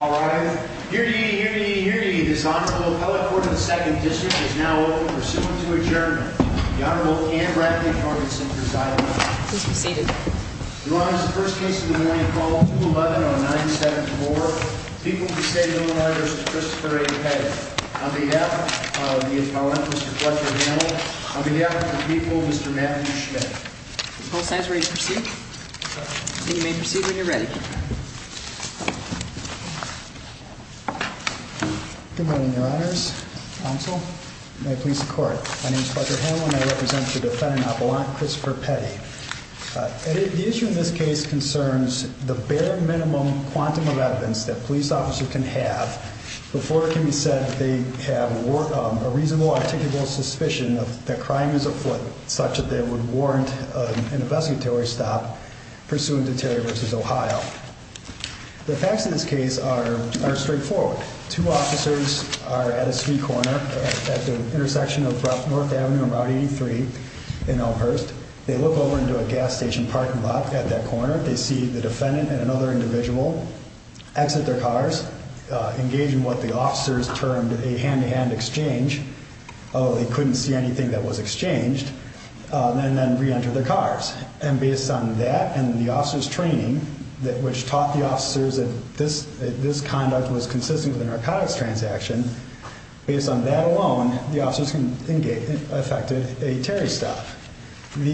all right here to hear this honorable appellate court of the second district is now open pursuant to adjournment the honorable and bradley target centers island please be seated your honor is the first case in the morning call 2 11 on 974 people who say the lawyers of christopher a.k on behalf of the appellant mr clutcher hamill on behalf of the people mr matthew schmidt are you ready to proceed you may proceed when you're ready. Good morning your honors counsel may please the court my name is clutcher hamill and I represent the defendant appellant christopher petty the issue in this case concerns the bare minimum quantum of evidence that police officer can have before it can be said that they have a reasonable suspicion of that crime is afoot such that they would warrant an investigatory stop pursuant to terry versus ohio the facts in this case are are straightforward two officers are at a street corner at the intersection of north avenue about 83 in elmhurst they look over into a gas station parking lot at that corner they see the defendant and another individual exit their cars engage in termed a hand-to-hand exchange oh they couldn't see anything that was exchanged and then re-enter their cars and based on that and the officer's training that which taught the officers that this this conduct was consistent with a narcotics transaction based on that alone the officers can engage affected a terry stop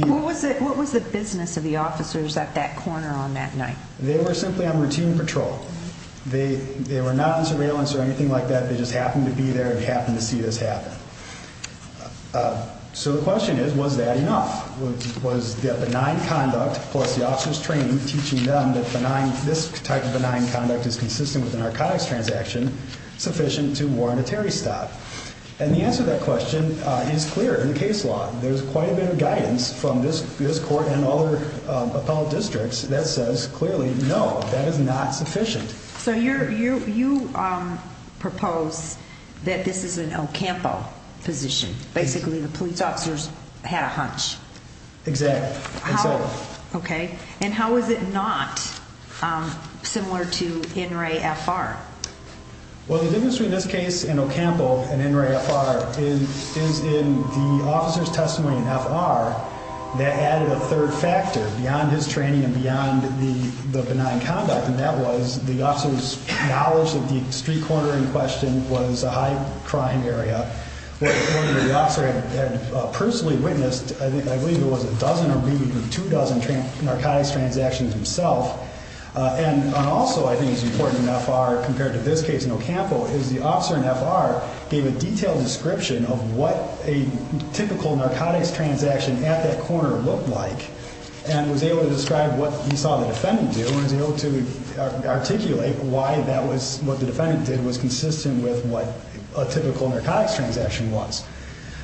what was it what was the business of the officers at that corner on that night they were simply on routine patrol they they were not in surveillance or anything like that they just happened to be there and happen to see this happen so the question is was that enough was that benign conduct plus the officer's training teaching them that benign this type of benign conduct is consistent with the narcotics transaction sufficient to warrant a terry stop and the answer to that question is clear in the case law there's quite a bit of guidance from this this court and other appellate districts that says clearly no that is not sufficient so you're you you propose that this is an ocampo position basically the police officers had a hunch exactly okay and how is it not similar to n-ray fr well the difference between this case in ocampo and n-ray fr is is in the officer's testimony in fr that added a third factor beyond his training and beyond the the benign conduct and that was the officer's knowledge of the street corner in question was a high crime area the officer had personally witnessed i think i believe it was a dozen or maybe two dozen narcotics transactions himself and also i think it's important in fr compared to this case in ocampo is the officer in fr gave a detailed description of what a typical narcotics transaction at that corner looked like and was able to describe what he saw the defendant do and was able to articulate why that was what the defendant did was consistent with what a typical narcotics transaction was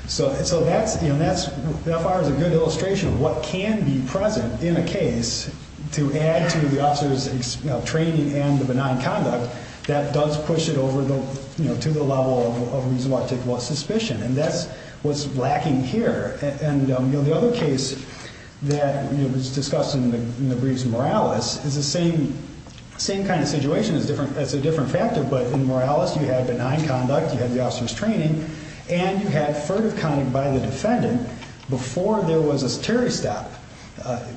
so so that's you know that's that far is a good illustration of what can be present in a case to add to the officer's training and the benign conduct that does push it over the you know to the level of suspicion and that's what's lacking here and you know the other case that was discussed in the briefs moralis is the same same kind of situation is different that's a different factor but in moralis you had benign conduct you had the officer's training and you had furtive conduct by the defendant before there was a terry stop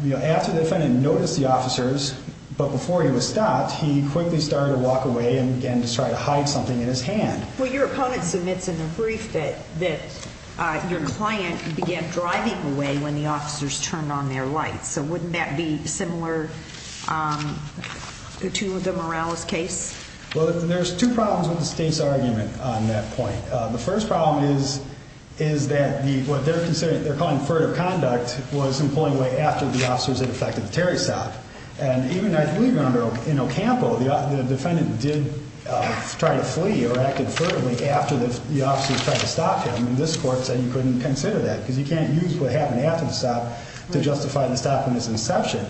you know after the defendant noticed the officers but before he was stopped he quickly started to walk away and began to try to hide something in his hand well your opponent submits in the brief that that uh your client began driving away when the officers turned on their lights so wouldn't that be similar um to the moralis case well there's two problems with the state's argument on that point uh the first problem is is that the what they're considering they're calling furtive conduct was in pulling away after the officers had affected the terry stop and even i believe in ocampo the defendant did uh try to flee or acted furtively after the the officers tried to stop him and this court said you couldn't consider that because you can't use what happened after the stop to justify the stop in this inception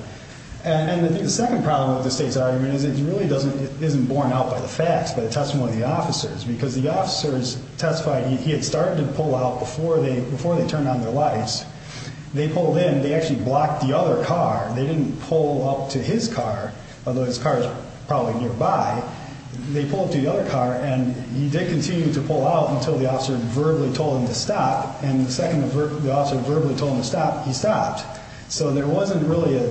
and i think the second problem with the state's argument is it really doesn't it isn't borne out by the facts by the testimony of the officers because the officers testified he had started to pull out before they before they turned on their lights they pulled in they actually blocked the other car they didn't pull up to his car although his car is probably nearby they pulled to the other car and he did continue to pull out until the officer verbally told him to stop and the second the officer verbally told him to stop he stopped so there wasn't really a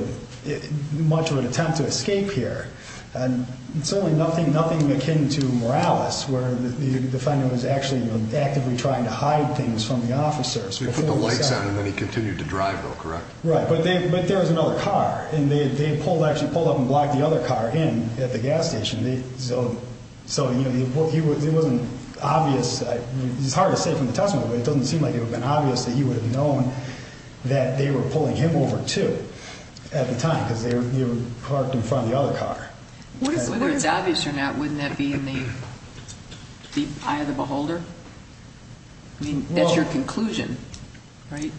much of an attempt to escape here and certainly nothing nothing akin to moralis where the defendant was actually actively trying to hide things from the officers we put the lights on and then he continued to drive though correct right but they but there was another car and they pulled actually pulled up and blocked the other car in at the gas station they so so you know he was it wasn't obvious it's hard to say from the testimony but it doesn't seem like it would have been obvious that he would have known that they were pulling him over too at the time because they were parked in front of the other car whether it's obvious or not wouldn't that be in the eye of the beholder i mean that's your conclusion right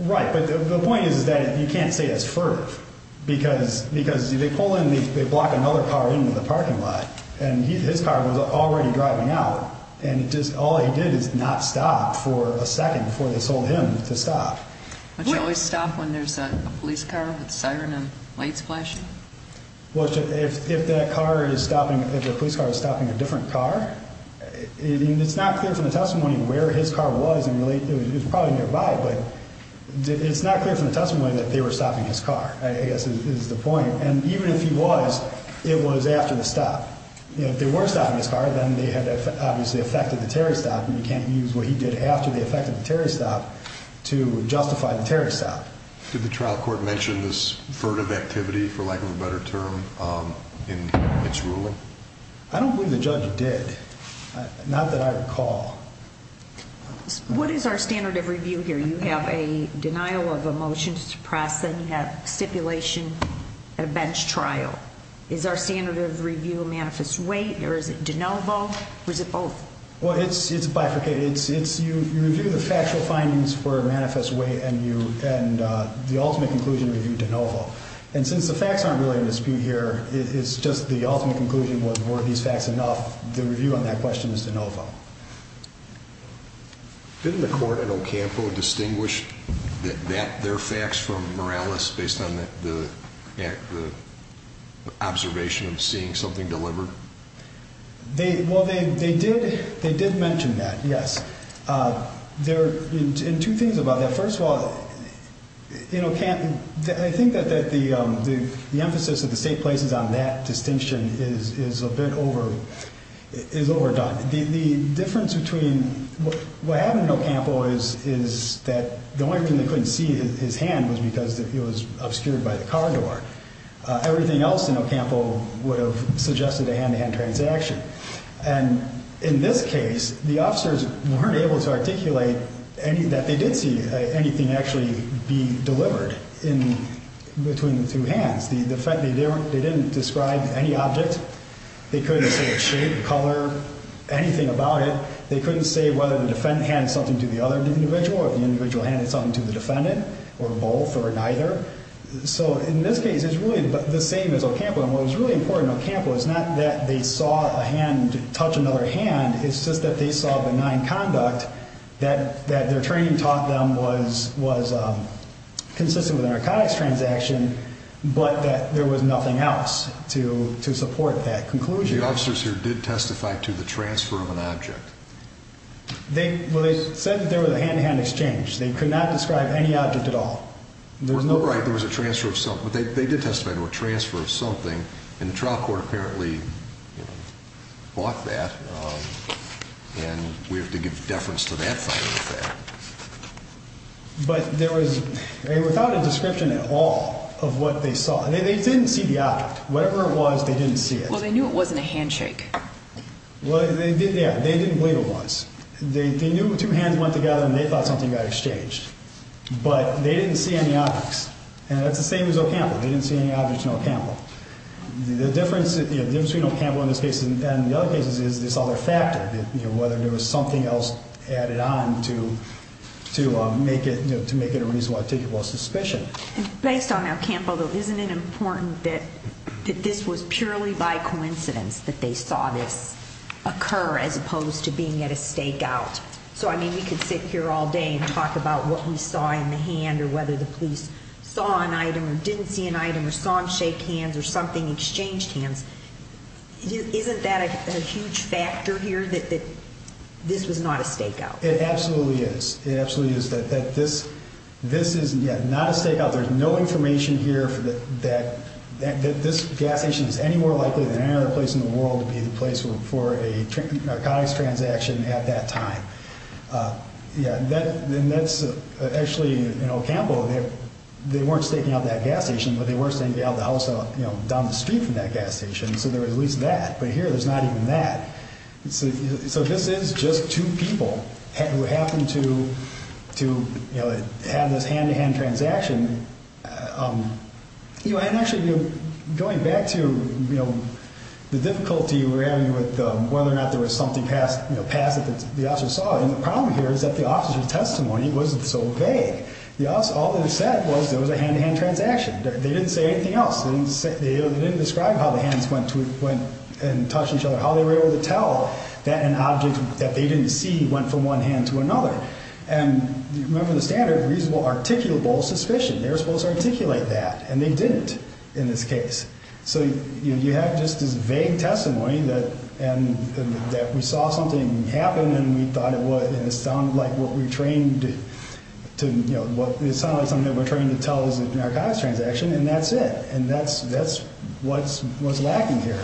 right but the point is is that you can't say it's furtive because because they pull in they block another car into the parking lot and his car was already driving out and it just all he did is not stop for a second before they sold him to stop but you always stop when there's a police car with siren and lights flashing well if if that car is stopping if the police car is stopping a different car it's not clear from the testimony where his car was and really it was probably nearby but it's not clear from the testimony that they were stopping his car i guess is the point and even if he was it was after the stop you know if they were stopping his car then they had obviously affected the tariff stop and you can't use what he did after they affected the tariff stop to justify the tariff stop did the trial court mention this furtive activity for lack of a better term um in its ruling i don't believe the judge did not that i recall what is our standard of review here you have a denial of a motion to suppress then you have stipulation at a bench trial is our standard of review manifest weight or is it de novo or is it both well it's it's bifurcated it's it's you you review the factual findings for manifest weight and you and uh the ultimate conclusion review de novo and since the facts aren't really in dispute here it's just the ultimate conclusion was were these facts enough the review on that question is de novo um didn't the court in ocampo distinguish that that their facts from morales based on the the act the observation of seeing something delivered they well they they did they did mention that yes uh there in two things about that first of all you know can't i think that that the um the between what happened in ocampo is is that the only thing they couldn't see his hand was because that he was obscured by the car door uh everything else in ocampo would have suggested a hand-to-hand transaction and in this case the officers weren't able to articulate any that they did see anything actually be delivered in between the two hands the the fact they didn't they didn't describe any object they couldn't say the shape color anything about it they couldn't say whether the defendant handed something to the other individual or the individual handed something to the defendant or both or neither so in this case it's really the same as ocampo and what was really important ocampo is not that they saw a hand touch another hand it's just that they saw benign conduct that that their training taught them was was um consistent with a narcotics transaction but that there was nothing else to to support that conclusion the officers here did testify to the transfer of an object they well they said that there was a hand-to-hand exchange they could not describe any object at all there's no right there was a transfer of something but they did testify to a transfer of something and the trial court apparently bought that um and we have to of what they saw they didn't see the object whatever it was they didn't see it well they knew it wasn't a handshake well they did yeah they didn't believe it was they knew two hands went together and they thought something got exchanged but they didn't see any objects and that's the same as ocampo they didn't see any objects in ocampo the difference between ocampo in this case and the other cases is this other factor that you know whether there was something added on to to make it to make it a reasonable suspicion and based on our camp although isn't it important that that this was purely by coincidence that they saw this occur as opposed to being at a stakeout so i mean we could sit here all day and talk about what we saw in the hand or whether the police saw an item or didn't see an item or saw him shake hands or something exchanged hands isn't that a huge factor here that this was not a stakeout it absolutely is it absolutely is that that this this is yeah not a stakeout there's no information here that that that this gas station is any more likely than any other place in the world to be the place for a narcotics transaction at that time uh yeah then that's actually you know campbell they weren't staking out that gas but they were saying the other house you know down the street from that gas station so there was at least that but here there's not even that so this is just two people who happened to to you know have this hand-to-hand transaction um you know and actually going back to you know the difficulty we're having with um whether or not there was something passed you know past that the officer saw and the problem here is that the officer's testimony wasn't so vague the office all they said was there was a hand-to-hand transaction they didn't say anything else they didn't say they didn't describe how the hands went to it went and touched each other how they were able to tell that an object that they didn't see went from one hand to another and you remember the standard reasonable articulable suspicion they were supposed to articulate that and they didn't in this case so you have just this vague testimony that and that we saw something happen and we thought it was and it sounded like what we trained to you know what it sounded like something we're trying to tell is a narcotics transaction and that's it and that's that's what's what's lacking here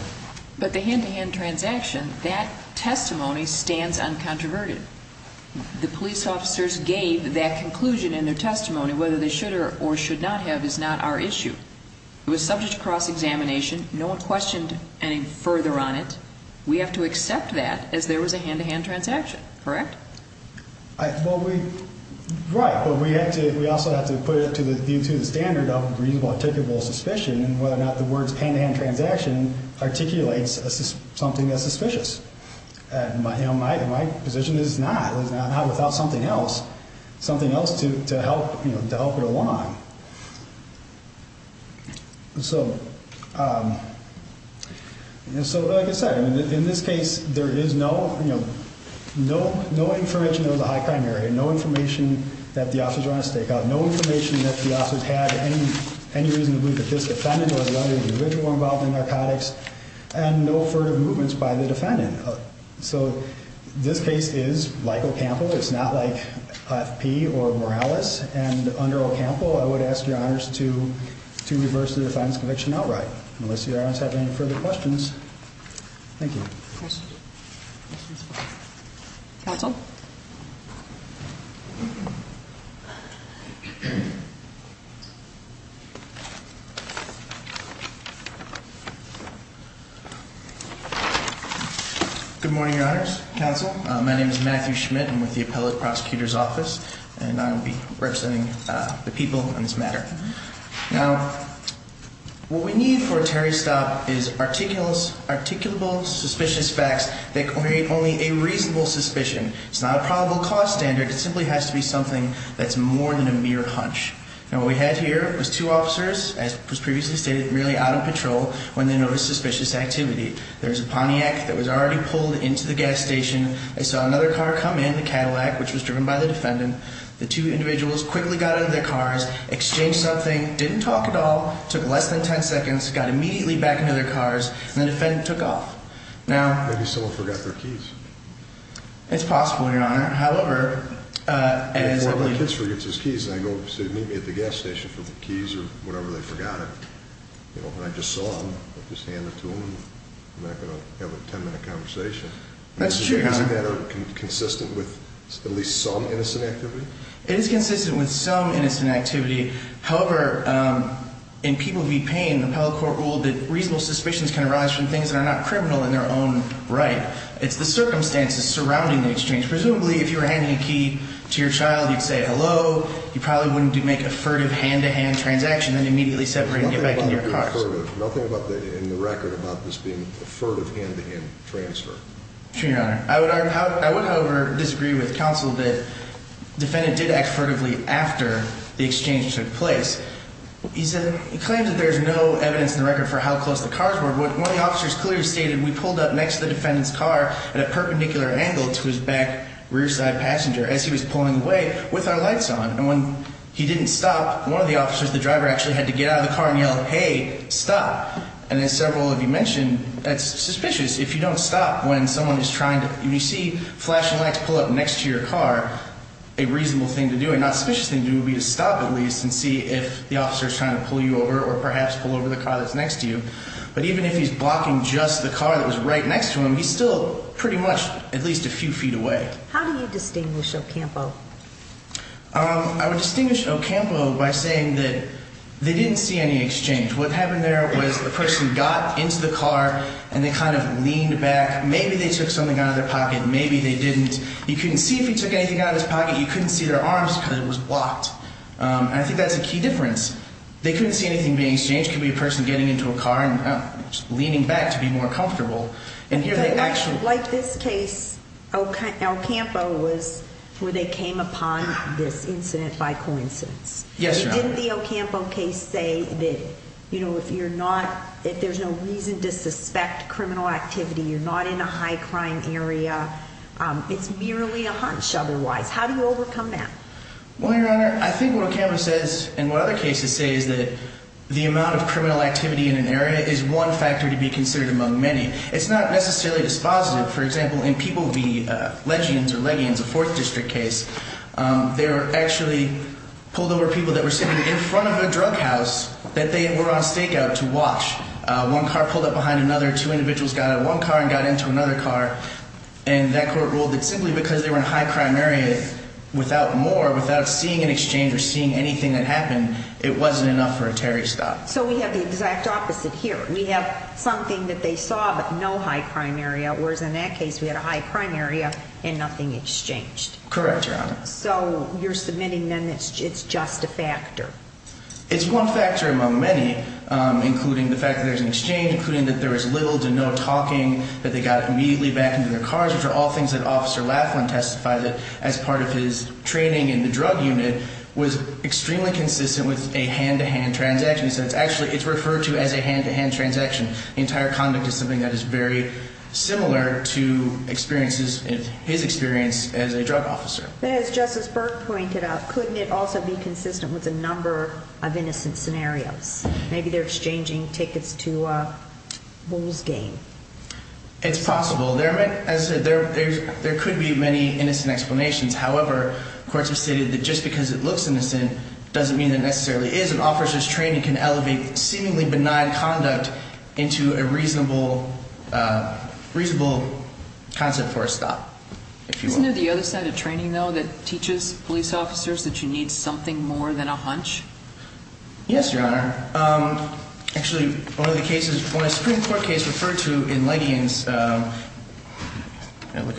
but the hand-to-hand transaction that testimony stands uncontroverted the police officers gave that conclusion in their testimony whether they should or should not have is not our issue it was subject to cross-examination no one questioned any further on it we have to correct i well we right but we have to we also have to put it to the view to the standard of reasonable articulable suspicion and whether or not the words hand-to-hand transaction articulates something that's suspicious and my you know my my position is not it's not without something else something else to to help you know to help it along so um and so like i said in this case there is no you know no no information there was a high crime area no information that the officers were on a stakeout no information that the officers had any any reason to believe that this defendant was one individual involved in narcotics and no furtive movements by the defendant so this case is like Ocampo it's not like FP or Morales and under Ocampo i would ask your honors to to reverse the defiance conviction outright unless your honors have any further questions thank you counsel good morning your honors counsel my name is Matthew Schmidt i'm with the appellate prosecutor's office and i will be representing uh the people on this matter now what we need for a terry stop is articles articulable suspicious facts that create only a reasonable suspicion it's not a probable cause standard it simply has to be something that's more than a mere hunch now what we had here was two officers as was previously stated merely out of patrol when they noticed suspicious activity there was a Pontiac that was already pulled into the gas station i saw another car come in the Cadillac which was driven by the defendant the two individuals quickly got into their cars exchanged something didn't talk at all took less than 10 seconds got immediately back into their cars and the defendant took off now maybe someone forgot their keys it's possible your honor however uh as well my kids forgets his keys i go to meet me at the gas station for the keys or whatever they forgot it you know and i just saw them i'll just hand it to them i'm not consistent with at least some innocent activity it is consistent with some innocent activity however um and people be paying the appellate court ruled that reasonable suspicions can arise from things that are not criminal in their own right it's the circumstances surrounding the exchange presumably if you were handing a key to your child you'd say hello you probably wouldn't make a furtive hand-to-hand transaction and immediately separate and get back in your car nothing about the in the record about this being a furtive hand-to-hand transfer to your honor i would i would however disagree with counsel that defendant did act furtively after the exchange took place he said he claims that there's no evidence in the record for how close the cars were what one of the officers clearly stated we pulled up next to the defendant's car at a perpendicular angle to his back rear side passenger as he was pulling away with our lights on and when he didn't stop one of the officers the driver actually had to get out of the car and stop and as several of you mentioned that's suspicious if you don't stop when someone is trying to you see flashing lights pull up next to your car a reasonable thing to do and not suspicious thing to do would be to stop at least and see if the officer is trying to pull you over or perhaps pull over the car that's next to you but even if he's blocking just the car that was right next to him he's still pretty much at least a few feet away how do you distinguish ocampo um i would the person got into the car and they kind of leaned back maybe they took something out of their pocket maybe they didn't you couldn't see if he took anything out of his pocket you couldn't see their arms because it was blocked um and i think that's a key difference they couldn't see anything being exchanged could be a person getting into a car and just leaning back to be more comfortable and here they actually like this case okay el campo was where they came upon this if you're not if there's no reason to suspect criminal activity you're not in a high crime area it's merely a hunch otherwise how do you overcome that well your honor i think what a camera says and what other cases say is that the amount of criminal activity in an area is one factor to be considered among many it's not necessarily dispositive for example in people v legends or leggings a fourth district case um they were actually pulled over people that were sitting in a drug house that they were on stakeout to watch uh one car pulled up behind another two individuals got out one car and got into another car and that court ruled that simply because they were in high crime area without more without seeing an exchange or seeing anything that happened it wasn't enough for a terry stop so we have the exact opposite here we have something that they saw but no high crime area whereas in that case we had a high crime area and nothing exchanged correct your honor so you're submitting then it's just a factor it's one factor among many including the fact that there's an exchange including that there was little to no talking that they got immediately back into their cars which are all things that officer laughlin testifies it as part of his training in the drug unit was extremely consistent with a hand-to-hand transaction so it's actually it's referred to as a hand-to-hand transaction the entire is something that is very similar to experiences in his experience as a drug officer as justice burke pointed out couldn't it also be consistent with a number of innocent scenarios maybe they're exchanging tickets to a bulls game it's possible there as there there could be many innocent explanations however courts have stated that just because it looks innocent doesn't mean that is an officer's training can elevate seemingly benign conduct into a reasonable uh reasonable concept for a stop isn't there the other side of training though that teaches police officers that you need something more than a hunch yes your honor um actually one of the cases when a supreme court case referred to in leggings uh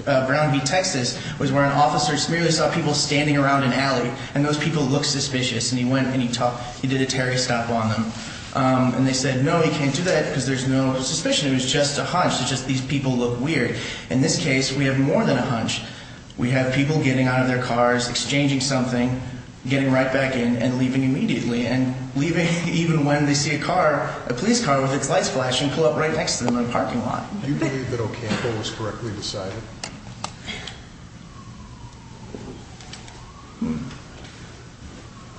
brown v texas was where an officer merely saw people standing around an alley and those people look suspicious and he went and he talked he did a terry stop on them um and they said no he can't do that because there's no suspicion it was just a hunch it's just these people look weird in this case we have more than a hunch we have people getting out of their cars exchanging something getting right back in and leaving immediately and leaving even when they see a car a police car with its lights flashing pull up right next to them in the parking lot do you believe that ocampo was correctly decided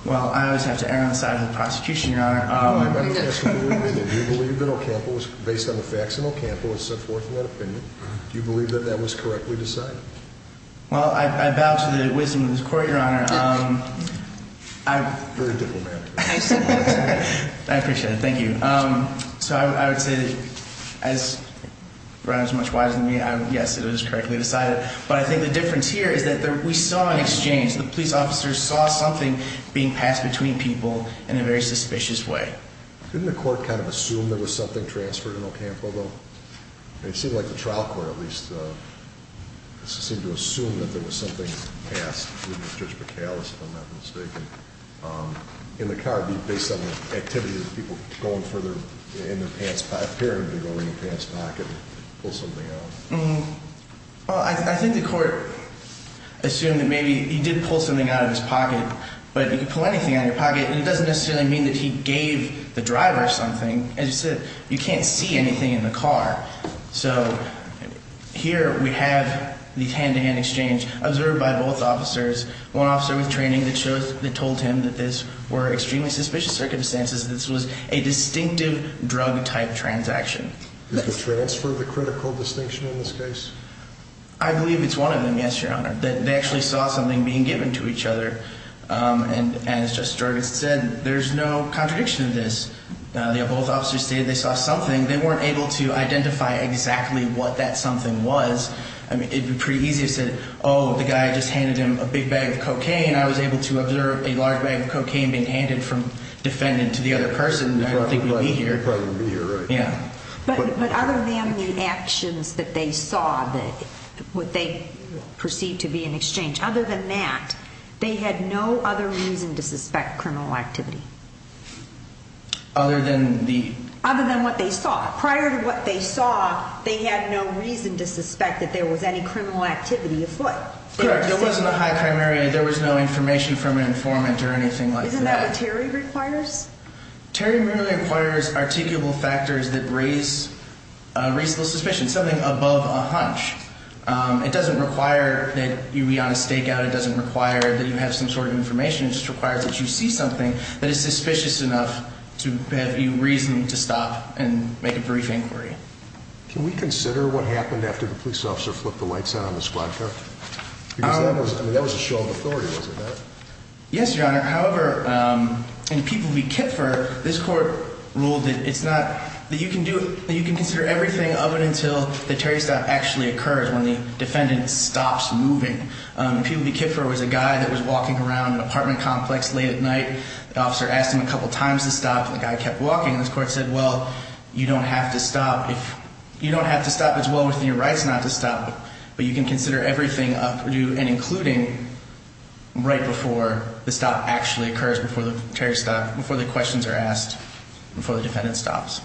well i always have to err on the side of the prosecution your honor do you believe that ocampo was based on the facts and ocampo was set forth in that opinion do you believe that that was correctly decided well i i bow to the wisdom of this court your honor um i'm very diplomatic i appreciate it thank you um so i would say that as right as much wise than me i'm yes it was correctly decided but i think the difference here is that we saw an exchange the police officers saw something being passed between people in a very suspicious way didn't the court kind of assume there was something transferred in ocampo though it seemed like the trial court at least uh seemed to assume that there was something passed with judge mccallis if i'm not mistaken um in the car based on the activity of people going for their in their pants apparently going in the pants pocket and pull something out well i think the court assumed that maybe he did pull something out of his pocket but you can pull anything out of your pocket and it doesn't necessarily mean that he gave the driver something as you said you can't see anything in the car so here we have the hand-to-hand exchange observed by both officers one officer with training that shows that told him that this were extremely suspicious circumstances this was a distinctive drug type transaction you could transfer the critical distinction in this case i believe it's one of them yes your honor that they actually saw something being given to each other um and as just started said there's no contradiction of this uh they both officers stated they saw something they weren't able to the guy just handed him a big bag of cocaine i was able to observe a large bag of cocaine being handed from defendant to the other person i don't think we'll be here yeah but but other than the actions that they saw that what they perceived to be in exchange other than that they had no other reason to suspect criminal activity other than the other than what they saw prior to what they saw they had no reason to suspect that there was any criminal activity afoot there wasn't a high primary there was no information from an informant or anything like that isn't that what terry requires terry really requires articulable factors that raise uh reasonable suspicion something above a hunch um it doesn't require that you be on a stakeout it doesn't require that you have some sort of information it just requires that you see something that is suspicious enough to have you reason to stop and make a brief inquiry can we consider what happened after the police officer flipped the lights out on the squad car because that was i mean that was a show of authority wasn't it yes your honor however um and people be kipfer this court ruled that it's not that you can do that you can consider everything of it until the terry stop actually occurs when the defendant stops moving um people be kipfer was a guy that was walking around an apartment complex late at night the officer asked him a couple times to stop the guy kept walking this court said well you don't have to stop if you don't have to stop as well within your rights not to stop but you can consider everything up or do and including right before the stop actually occurs before the terry stop before the questions are asked before the defendant stops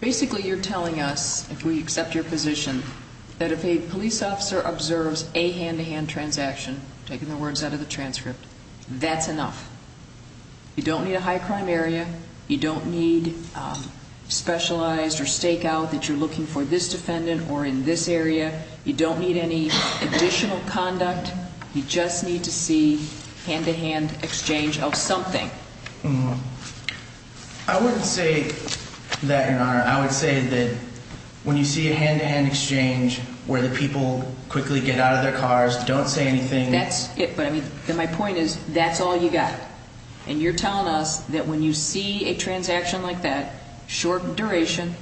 basically you're telling us if we accept your position that if a police officer observes a transcript that's enough you don't need a high crime area you don't need specialized or stake out that you're looking for this defendant or in this area you don't need any additional conduct you just need to see hand-to-hand exchange of something i wouldn't say that your honor i would say that when you see a hand-to-hand exchange where the people quickly get out of their cars don't say anything that's it but i mean then my point is that's all you got and you're telling us that when you see a transaction like that short duration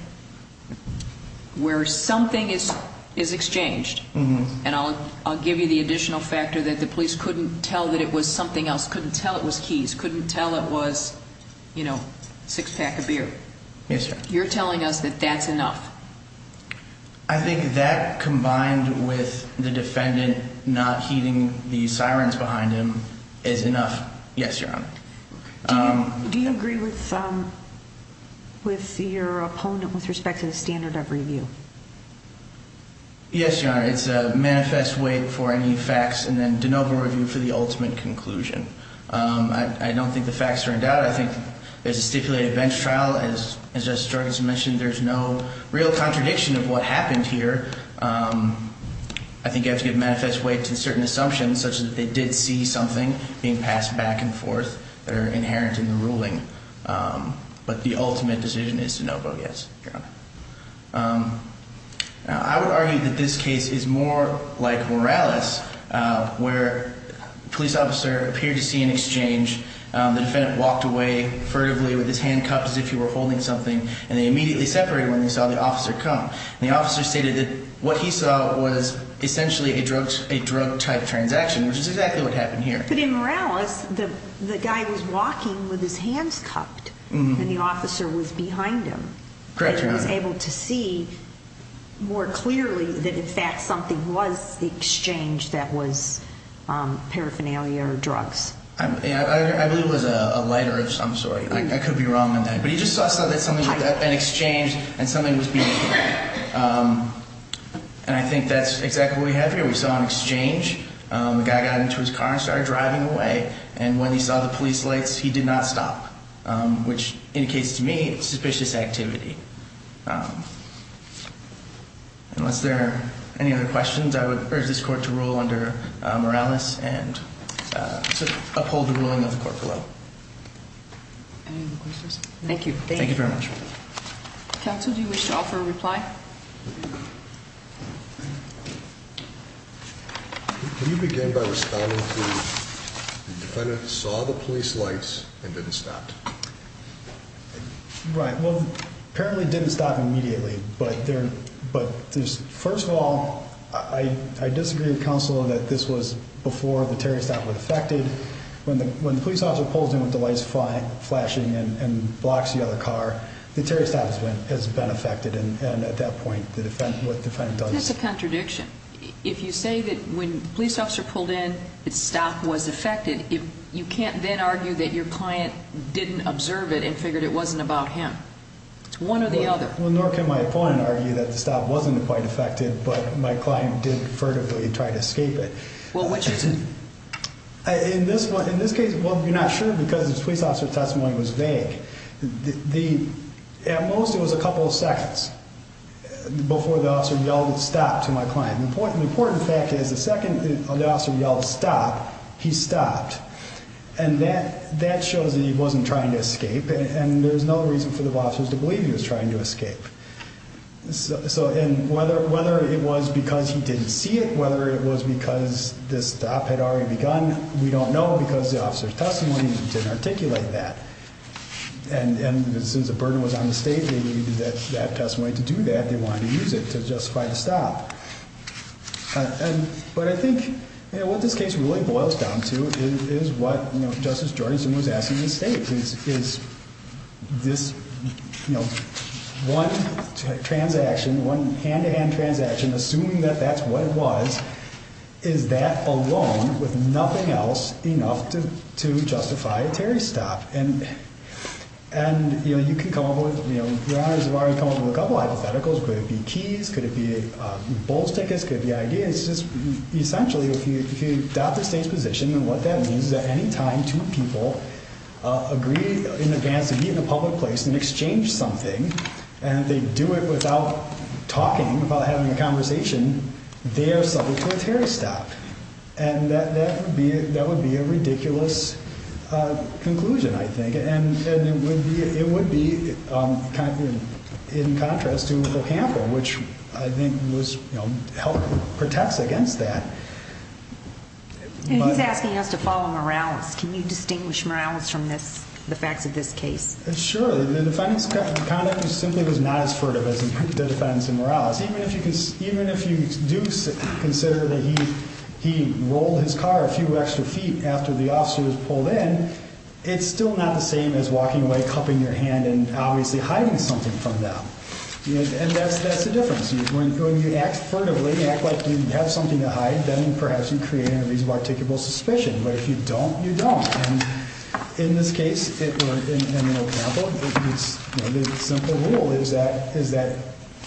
where something is is exchanged and i'll i'll give you the additional factor that the police couldn't tell that it was something else couldn't tell it was keys couldn't tell it was you know six pack of beer yes sir you're combined with the defendant not heeding the sirens behind him is enough yes your honor do you agree with um with your opponent with respect to the standard of review yes your honor it's a manifest weight for any facts and then de novo review for the ultimate conclusion um i i don't think the facts are in doubt i think there's a stipulated bench trial as as just started to mention there's no real contradiction of what happened here um i think you have to give manifest weight to certain assumptions such that they did see something being passed back and forth that are inherent in the ruling um but the ultimate decision is to no vote yes your honor um i would argue that this case is more like morales uh where police officer appeared to see an exchange um the defendant walked away furtively with his hand cupped as if he were holding something and they immediately separated when they saw the officer come the officer stated that what he saw was essentially a drug a drug type transaction which is exactly what happened here but in morales the the guy was walking with his hands cupped and the officer was behind him correct he was able to see more clearly that in fact something was the exchange that was paraphernalia or drugs i believe it was a lighter of some sort i could be wrong on that but he just saw something that had been exchanged and something was being um and i think that's exactly what we have here we saw an exchange um the guy got into his car and started driving away and when he saw the police lights he did not stop um which indicates to me suspicious activity um unless there are any other questions i would urge this court to rule under uh morales and uh to uphold the ruling of the court below any other questions thank you thank you very much council do you wish to offer a reply can you begin by responding to the defendant saw the police lights and didn't stop right well apparently didn't stop immediately but there but there's first of all i i disagree with counsel that this was before the terrorist that was affected when the when the police officer pulls in with the lights flashing and and blocks the other car the terrorist has been has been affected and and at that point the defense what the defendant does that's a contradiction if you say that when police officer pulled in it stopped was affected if you can't then argue that your client didn't observe it and figured it wasn't about him it's one or the other well nor can my opponent argue that the stop wasn't quite effective but my client did furtively try to escape it well which is it in this one in this case well you're not sure because this police officer testimony was vague the at most it was a couple of seconds before the officer yelled stop to my trying to escape and there's no reason for the officers to believe he was trying to escape so and whether whether it was because he didn't see it whether it was because this stop had already begun we don't know because the officer's testimony didn't articulate that and and as soon as the burden was on the state they needed that that testimony to do that they wanted to use it to justify the stop and but i think you know what this case really boils down to is is what you know justice jordan was asking the state is is this you know one transaction one hand-to-hand transaction assuming that that's what it was is that alone with nothing else enough to to justify terry's stop and and you know you can come up with you know your honors have already come up with a couple hypotheticals could it be keys could it be uh bulls tickets could the idea essentially if you adopt the state's position and what that means is at any time two people agree in advance to be in a public place and exchange something and they do it without talking about having a conversation they are subject to a terry stop and that that would be that would be a ridiculous uh conclusion i think and and it would be it would be um in contrast to against that and he's asking us to follow morales can you distinguish morales from this the facts of this case sure the defendant's conduct simply was not as furtive as the defense and morales even if you can even if you do consider that he he rolled his car a few extra feet after the officer was pulled in it's still not the same as walking away cupping your hand and obviously hiding something from them and that's that's the difference when you act furtively act like you have something to hide then perhaps you create an unreasonable articulable suspicion but if you don't you don't and in this case it or in an example it's the simple rule is that is that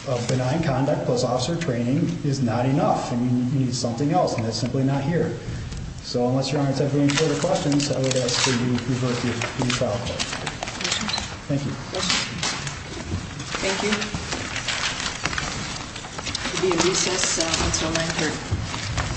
a benign conduct plus officer training is not enough and you need something else and that's simply not here so unless your honors have any further questions i would ask that you remain here